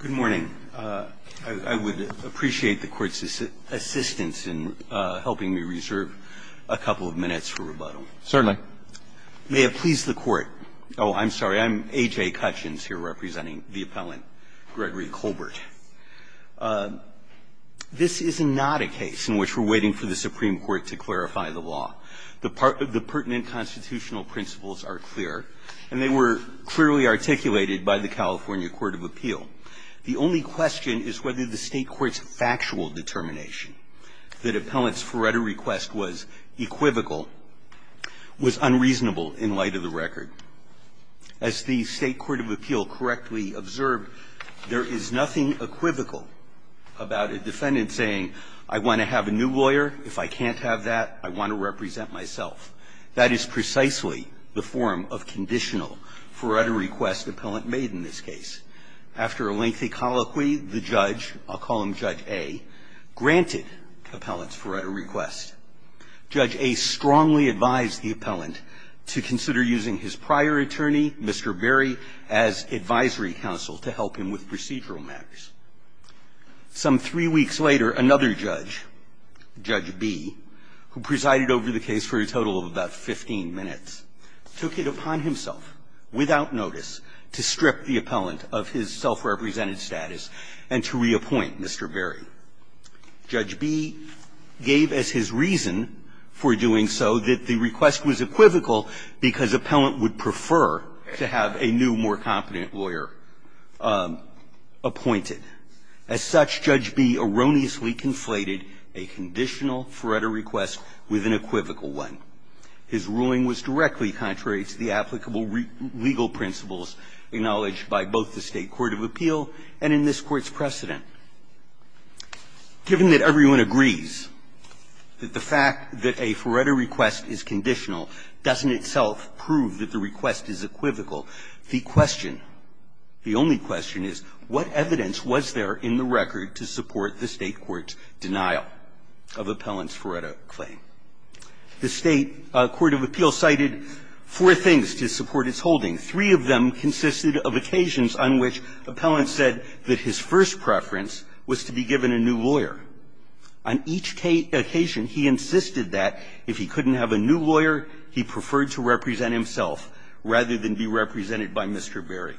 Good morning. I would appreciate the Court's assistance in helping me reserve a couple of minutes for rebuttal. Certainly. May it please the Court – oh, I'm sorry, I'm A.J. Cutchins here representing the appellant, Gregory Colbert. This is not a case in which we're waiting for the Supreme Court to clarify the law. The pertinent constitutional principles are clear, and they were clearly articulated by the California Court of Appeal. The only question is whether the State court's factual determination that appellant's forerunner request was equivocal was unreasonable in light of the record. As the State court of appeal correctly observed, there is nothing equivocal about a defendant saying, I want to have a new lawyer. If I can't have that, I want to represent myself. That is precisely the form of conditional forerunner request appellant made in this case. After a lengthy colloquy, the judge, I'll call him Judge A, granted appellant's forerunner request. Judge A strongly advised the appellant to consider using his prior attorney, Mr. Berry, as advisory counsel to help him with procedural matters. Some three weeks later, another judge, Judge B, who presided over the case for a total of about 15 minutes, took it upon himself, without notice, to strip the appellant of his self-represented status and to reappoint Mr. Berry. Judge B gave as his reason for doing so that the request was equivocal because appellant would prefer to have a new, more competent lawyer appointed. As such, Judge B erroneously conflated a conditional forerunner request with an equivocal one. His ruling was directly contrary to the applicable legal principles acknowledged by both the State court of appeal and in this Court's precedent. Given that everyone agrees that the fact that a forerunner request is conditional doesn't itself prove that the request is equivocal, the question, the only question is, what evidence was there in the record to support the State court's denial of appellant's forerunner claim? The State court of appeal cited four things to support its holding. Three of them consisted of occasions on which appellant said that his first preference was to be given a new lawyer. On each occasion, he insisted that if he couldn't have a new lawyer, he preferred to represent himself rather than be represented by Mr. Berry.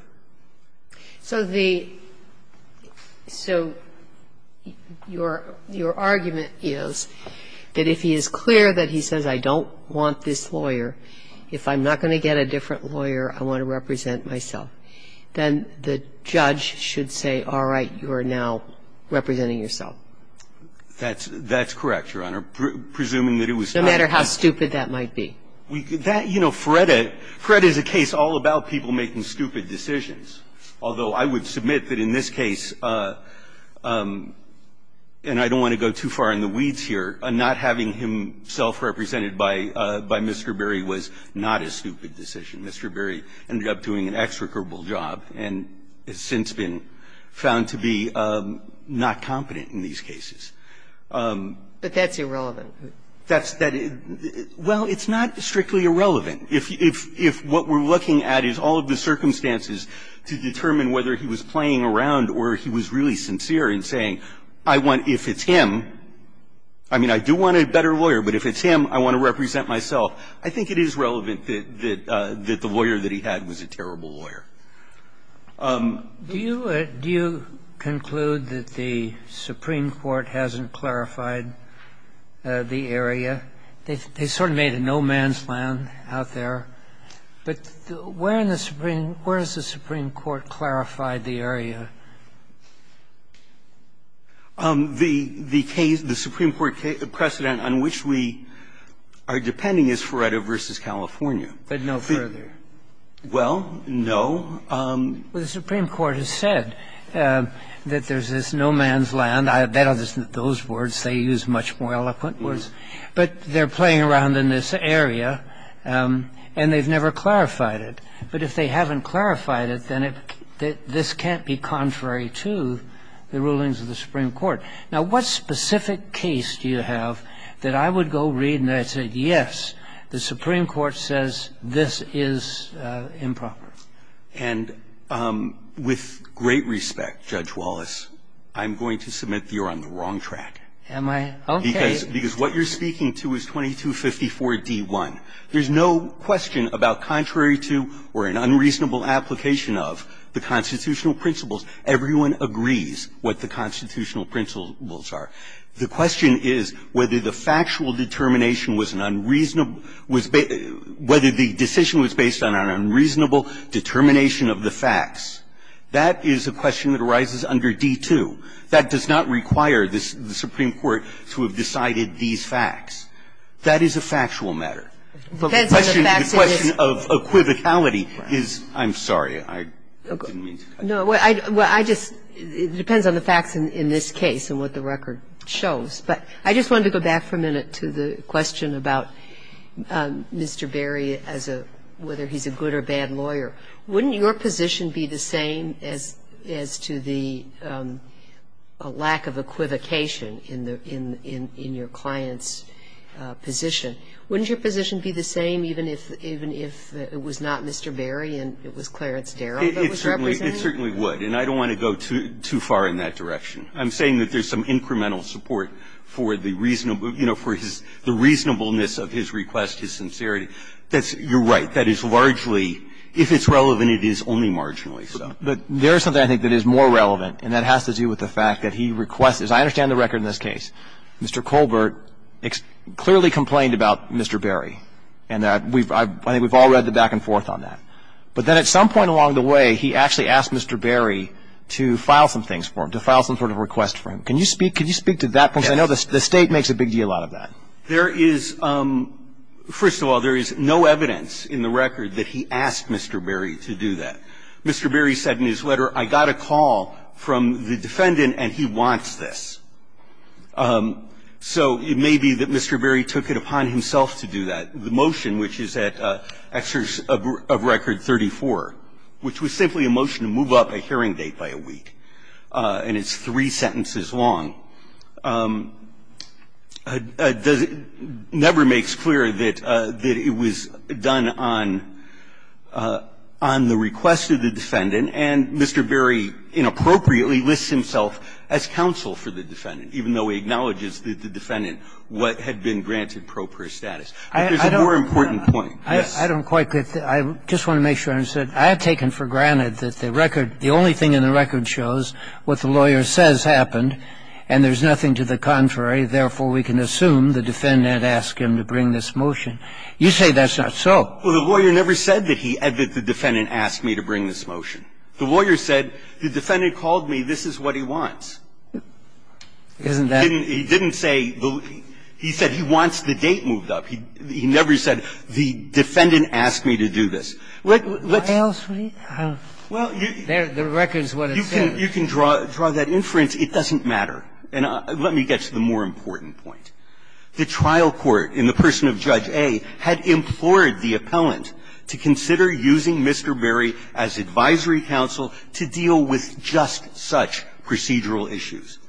So the so your argument is that if he is clear that he says, I don't want this lawyer, if I'm not going to get a different lawyer, I want to represent myself, then the judge should say, all right, you are now representing yourself. That's correct, Your Honor, presuming that it was not. No matter how stupid that might be. That, you know, FREDA, FREDA is a case all about people making stupid decisions. Although, I would submit that in this case, and I don't want to go too far in the weeds here, not having him self-represented by Mr. Berry was not a stupid decision. Mr. Berry ended up doing an execrable job and has since been found to be not competent in these cases. But that's irrelevant. That's that, well, it's not strictly irrelevant. If what we're looking at is all of the circumstances to determine whether he was playing around or he was really sincere in saying, I want, if it's him, I mean, I do want a better lawyer, but if it's him, I want to represent myself, I think it is relevant that the lawyer that he had was a terrible lawyer. Do you conclude that the Supreme Court hasn't clarified the area? They sort of made a no-man's land out there, but where in the Supreme Court has the Supreme Court clarified the area? The case, the Supreme Court precedent on which we are depending is FREDA v. California. But no further. Well, no. Well, the Supreme Court has said that there's this no-man's land. They don't use those words. They use much more eloquent words. But they're playing around in this area, and they've never clarified it. But if they haven't clarified it, then this can't be contrary to the rulings of the Supreme Court. Now, what specific case do you have that I would go read and I'd say, yes, the Supreme Court's ruling was improper? And with great respect, Judge Wallace, I'm going to submit you're on the wrong track. Am I? Okay. Because what you're speaking to is 2254d-1. There's no question about contrary to or an unreasonable application of the constitutional principles. Everyone agrees what the constitutional principles are. The question is whether the factual determination was an unreasonable determination, whether the decision was based on an unreasonable determination of the facts. That is a question that arises under D-2. That does not require the Supreme Court to have decided these facts. That is a factual matter. The question of equivocality is — I'm sorry. I didn't mean to cut you off. No, well, I just — it depends on the facts in this case and what the record shows. But I just wanted to go back for a minute to the question about Mr. Berry as a — whether he's a good or bad lawyer. Wouldn't your position be the same as to the lack of equivocation in the — in your client's position? Wouldn't your position be the same even if it was not Mr. Berry and it was Clarence Darrell that was represented? It certainly would, and I don't want to go too far in that direction. I'm saying that there's some incremental support for the reasonable — you know, for his — the reasonableness of his request, his sincerity. That's — you're right. That is largely — if it's relevant, it is only marginally so. But there is something, I think, that is more relevant, and that has to do with the fact that he requests — as I understand the record in this case, Mr. Colbert clearly complained about Mr. Berry, and that we've — I think we've all read the back and forth on that. But then at some point along the way, he actually asked Mr. Berry to file some things for him, to file some sort of request for him. Can you speak — can you speak to that point? Yes. Because I know the State makes a big deal out of that. There is — first of all, there is no evidence in the record that he asked Mr. Berry to do that. Mr. Berry said in his letter, I got a call from the defendant and he wants this. So it may be that Mr. Berry took it upon himself to do that. The motion, which is at exer — of record 34, which was simply a motion to move up a hearing date by a week. And it's three sentences long. It never makes clear that it was done on — on the request of the defendant. And Mr. Berry inappropriately lists himself as counsel for the defendant, even though he acknowledges that the defendant had been granted pro per status. But there's a more important point. Yes. I don't quite get that. I just want to make sure I understand. I have taken for granted that the record — the only thing in the record shows what the lawyer says happened, and there's nothing to the contrary. Therefore, we can assume the defendant asked him to bring this motion. You say that's not so. Well, the lawyer never said that he — that the defendant asked me to bring this motion. The lawyer said, the defendant called me, this is what he wants. Isn't that — He didn't — he didn't say — he said he wants the date moved up. He never said, the defendant asked me to do this. What else would he have — the record's what it says. You can — you can draw that inference. It doesn't matter. And let me get to the more important point. The trial court in the person of Judge A had implored the appellant to consider using Mr. Berry as advisory counsel to deal with just such procedural issues.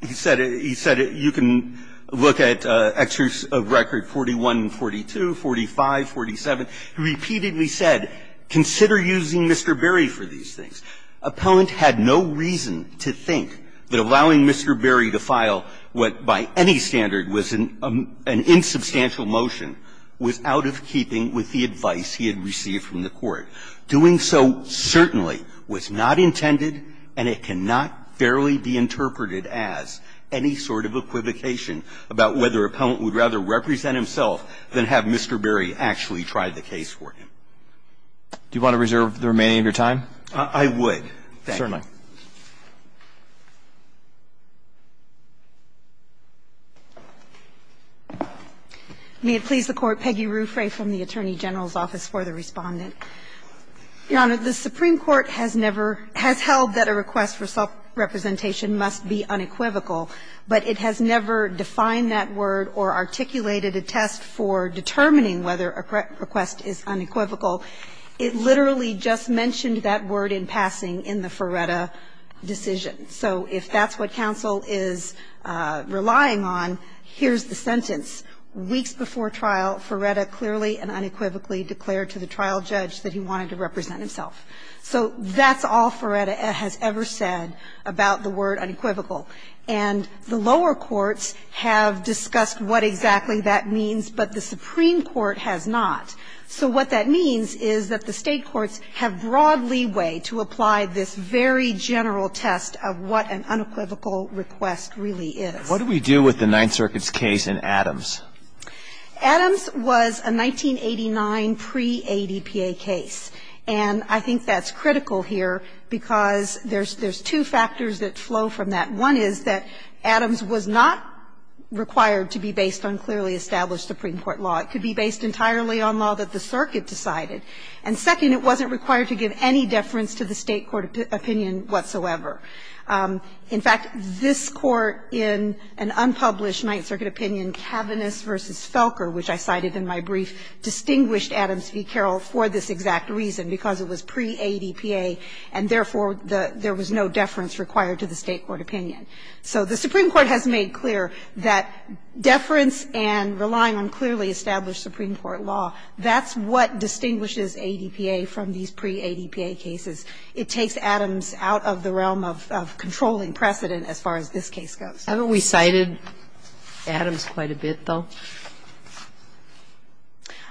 He said — he said you can look at excerpts of record 41 and 42, 45, 47. He repeatedly said, consider using Mr. Berry for these things. Appellant had no reason to think that allowing Mr. Berry to file what by any standard was an insubstantial motion was out of keeping with the advice he had received from the court. Doing so certainly was not intended, and it cannot fairly be interpreted as any sort of equivocation about whether appellant would rather represent himself than have Mr. Berry actually try the case for him. Do you want to reserve the remaining of your time? I would. Thank you. Certainly. May it please the Court. Peggy Ruffray from the Attorney General's Office for the Respondent. Your Honor, the Supreme Court has never — has held that a request for self-representation must be unequivocal, but it has never defined that word or articulated a test for determining whether a request is unequivocal. It literally just mentioned that word in passing in the Feretta decision. So if that's what counsel is relying on, here's the sentence. Weeks before trial, Feretta clearly and unequivocally declared to the trial judge that he wanted to represent himself. So that's all Feretta has ever said about the word unequivocal. And the lower courts have discussed what exactly that means, but the Supreme Court has not. So what that means is that the State courts have broad leeway to apply this very general test of what an unequivocal request really is. What do we do with the Ninth Circuit's case in Adams? Adams was a 1989 pre-ADPA case. And I think that's critical here because there's two factors that flow from that. One is that Adams was not required to be based on clearly established Supreme Court law. It could be based entirely on law that the circuit decided. And second, it wasn't required to give any deference to the State court opinion whatsoever. In fact, this Court in an unpublished Ninth Circuit opinion, Cavaniss v. Felker, which I cited in my brief, distinguished Adams v. Carroll for this exact reason. Because it was pre-ADPA and, therefore, there was no deference required to the State court opinion. So the Supreme Court has made clear that deference and relying on clearly established Supreme Court law, that's what distinguishes ADPA from these pre-ADPA cases. It takes Adams out of the realm of controlling precedent as far as this case goes. Sotomayor, haven't we cited Adams quite a bit, though?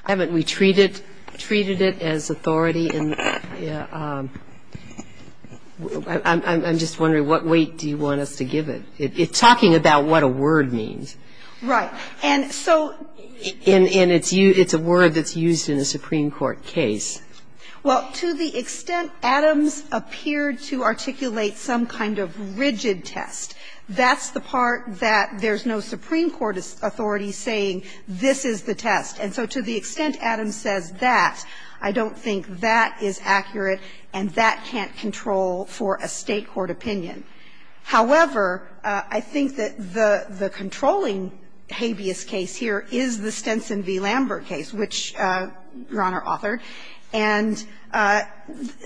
Haven't we treated it as authority in the ---- I'm just wondering what weight do you want us to give it? It's talking about what a word means. Right. And so ---- And it's a word that's used in a Supreme Court case. Well, to the extent Adams appeared to articulate some kind of rigid test, that's the part that there's no Supreme Court authority saying this is the test. And so to the extent Adams says that, I don't think that is accurate and that can't control for a State court opinion. However, I think that the controlling habeas case here is the Stenson v. Lambert case, which Your Honor authored. And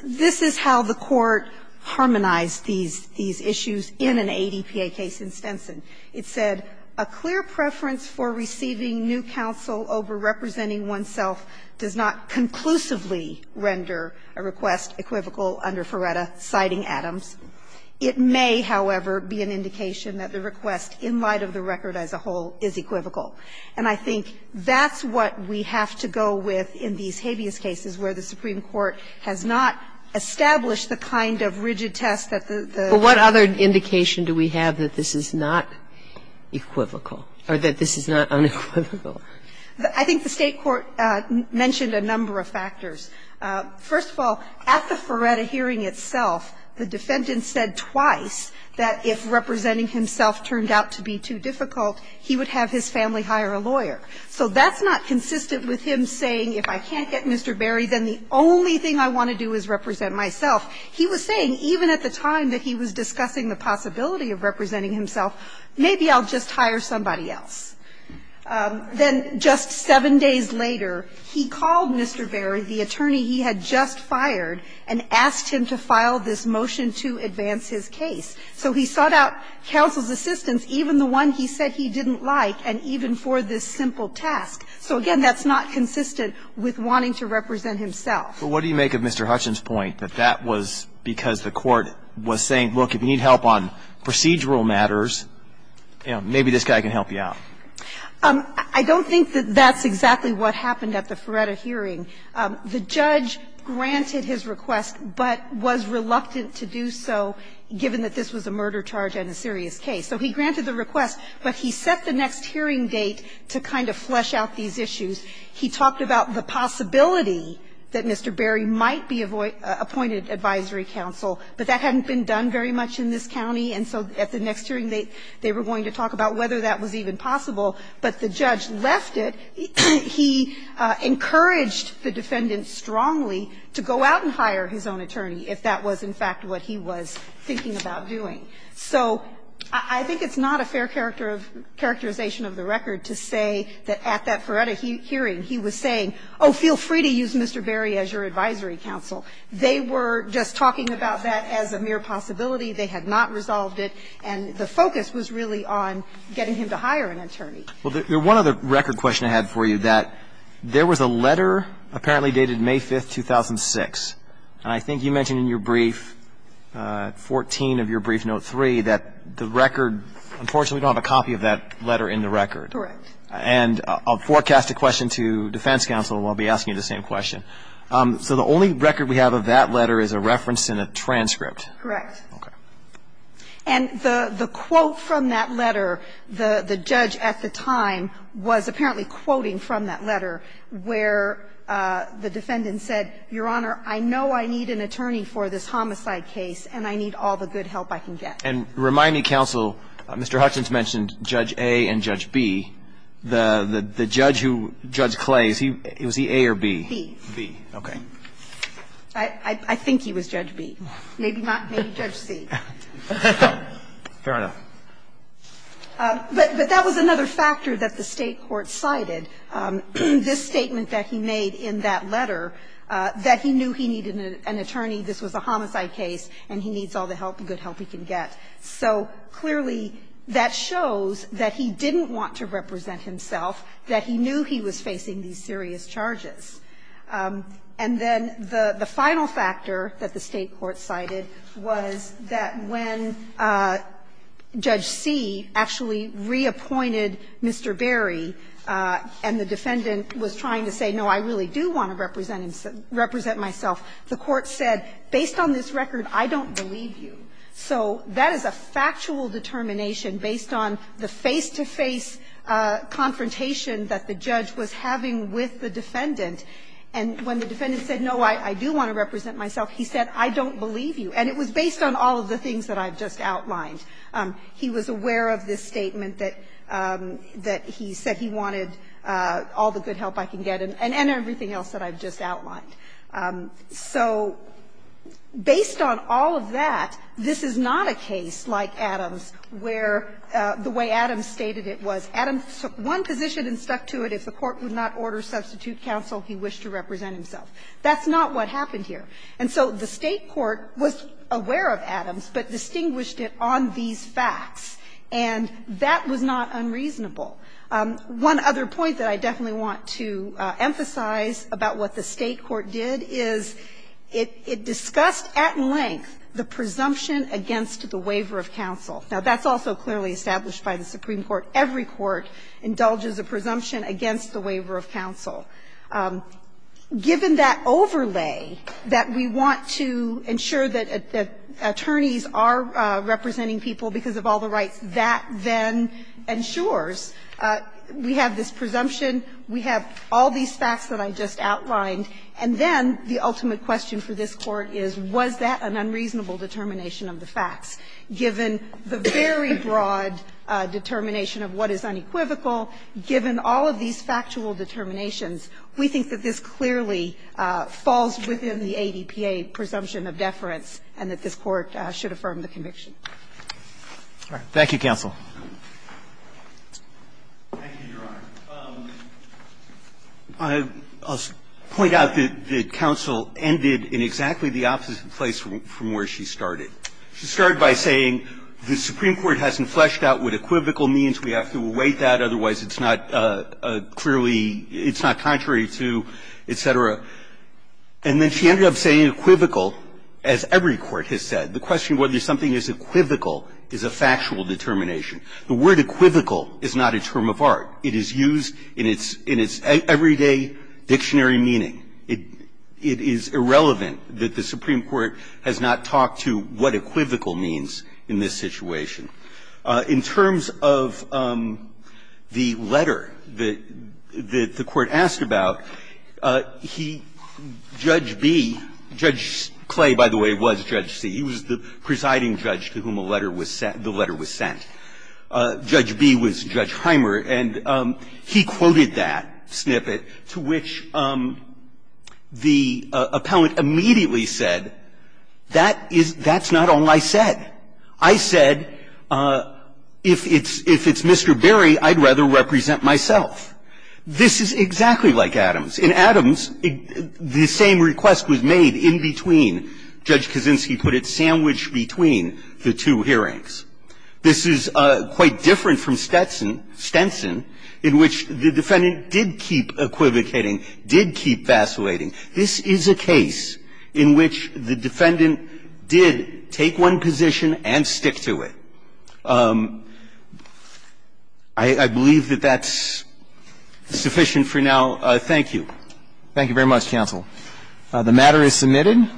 this is how the Court harmonized these issues in an ADPA case in Stenson. It said, A clear preference for receiving new counsel over representing oneself does not conclusively render a request equivocal under Feretta, citing Adams. It may, however, be an indication that the request in light of the record as a whole is equivocal. And I think that's what we have to go with in these habeas cases where the Supreme Court has not established the kind of rigid test that the ---- But what other indication do we have that this is not equivocal or that this is not unequivocal? I think the State court mentioned a number of factors. First of all, at the Feretta hearing itself, the defendant said twice that if representing himself turned out to be too difficult, he would have his family hire a lawyer. So that's not consistent with him saying, if I can't get Mr. Berry, then the only thing I want to do is represent myself. He was saying, even at the time that he was discussing the possibility of representing himself, maybe I'll just hire somebody else. Then just 7 days later, he called Mr. Berry, the attorney he had just fired, and asked him to file this motion to advance his case. So he sought out counsel's assistance, even the one he said he didn't like, and even for this simple task. So, again, that's not consistent with wanting to represent himself. But what do you make of Mr. Hutchins' point that that was because the court was saying, look, if you need help on procedural matters, you know, maybe this guy can help you out? I don't think that that's exactly what happened at the Feretta hearing. The judge granted his request, but was reluctant to do so, given that this was a murder charge and a serious case. So he granted the request, but he set the next hearing date to kind of flesh out these issues. He talked about the possibility that Mr. Berry might be appointed advisory counsel, but that hadn't been done very much in this county, and so at the next hearing, they were going to talk about whether that was even possible, but the judge left it. He encouraged the defendant strongly to go out and hire his own attorney if that was, in fact, what he was thinking about doing. So I think it's not a fair character of the characterization of the record to say that at that Feretta hearing, he was saying, oh, feel free to use Mr. Berry as your advisory counsel. They were just talking about that as a mere possibility. They had not resolved it, and the focus was really on getting him to hire an attorney. Well, there's one other record question I had for you, that there was a letter apparently dated May 5th, 2006, and I think you mentioned in your brief, 14 of your brief, note 3, that the record, unfortunately, we don't have a copy of that letter in the record. Correct. And I'll forecast a question to defense counsel, and I'll be asking you the same question. So the only record we have of that letter is a reference in a transcript. Correct. Okay. And the quote from that letter, the judge at the time was apparently quoting from that letter where the defendant said, Your Honor, I know I need an attorney for this homicide case, and I need all the good help I can get. And remind me, counsel, Mr. Hutchins mentioned Judge A and Judge B. The judge who – Judge Clay, was he A or B? B. B. Okay. I think he was Judge B. Maybe not. Maybe Judge C. Fair enough. But that was another factor that the State court cited. This statement that he made in that letter, that he knew he needed an attorney, this was a homicide case, and he needs all the help, the good help he can get. So clearly, that shows that he didn't want to represent himself, that he knew he was facing these serious charges. And then the final factor that the State court cited was that when Judge C actually reappointed Mr. Berry, and the defendant was trying to say, no, I really do want to represent myself, the court said, based on this record, I don't believe you. So that is a factual determination based on the face-to-face confrontation that the judge was having with the defendant. And when the defendant said, no, I do want to represent myself, he said, I don't believe you. And it was based on all of the things that I've just outlined. He was aware of this statement that he said he wanted all the good help I can get and everything else that I've just outlined. So based on all of that, this is not a case like Adams where the way Adams stated it was Adams took one position and stuck to it. If the court would not order substitute counsel, he wished to represent himself. That's not what happened here. And so the State court was aware of Adams, but distinguished it on these facts. And that was not unreasonable. One other point that I definitely want to emphasize about what the State court did is it discussed at length the presumption against the waiver of counsel. Now, that's also clearly established by the Supreme Court. Every court indulges a presumption against the waiver of counsel. Given that overlay that we want to ensure that attorneys are representing people because of all the rights, that then ensures we have this presumption, we have all these facts that I just outlined, and then the ultimate question for this Court is, was that an unreasonable determination of the facts? Given the very broad determination of what is unequivocal, given all of these factual determinations, we think that this clearly falls within the ADPA presumption of deference and that this Court should affirm the conviction. Roberts. Thank you, counsel. Thank you, Your Honor. I'll point out that counsel ended in exactly the opposite place from where she started. She started by saying the Supreme Court hasn't fleshed out what equivocal means. We have to await that, otherwise it's not clearly, it's not contrary to, et cetera. And then she ended up saying equivocal, as every court has said. The question of whether something is equivocal is a factual determination. The word equivocal is not a term of art. It is used in its everyday dictionary meaning. It is irrelevant that the Supreme Court has not talked to what equivocal means in this situation. In terms of the letter that the Court asked about, he, Judge B – Judge Clay, by the way, was Judge C. He was the presiding judge to whom the letter was sent. Judge B was Judge Hymer, and he quoted that snippet to which the appellant immediately said, that is – that's not all I said. I said, if it's Mr. Berry, I'd rather represent myself. This is exactly like Adams. In Adams, the same request was made in between. Judge Kaczynski put it, sandwiched between the two hearings. This is quite different from Stetson – Stenson, in which the defendant did keep equivocating, did keep vacillating. This is a case in which the defendant did take one position and stick to it. I believe that that's sufficient for now. Thank you. Thank you very much, counsel. The matter is submitted.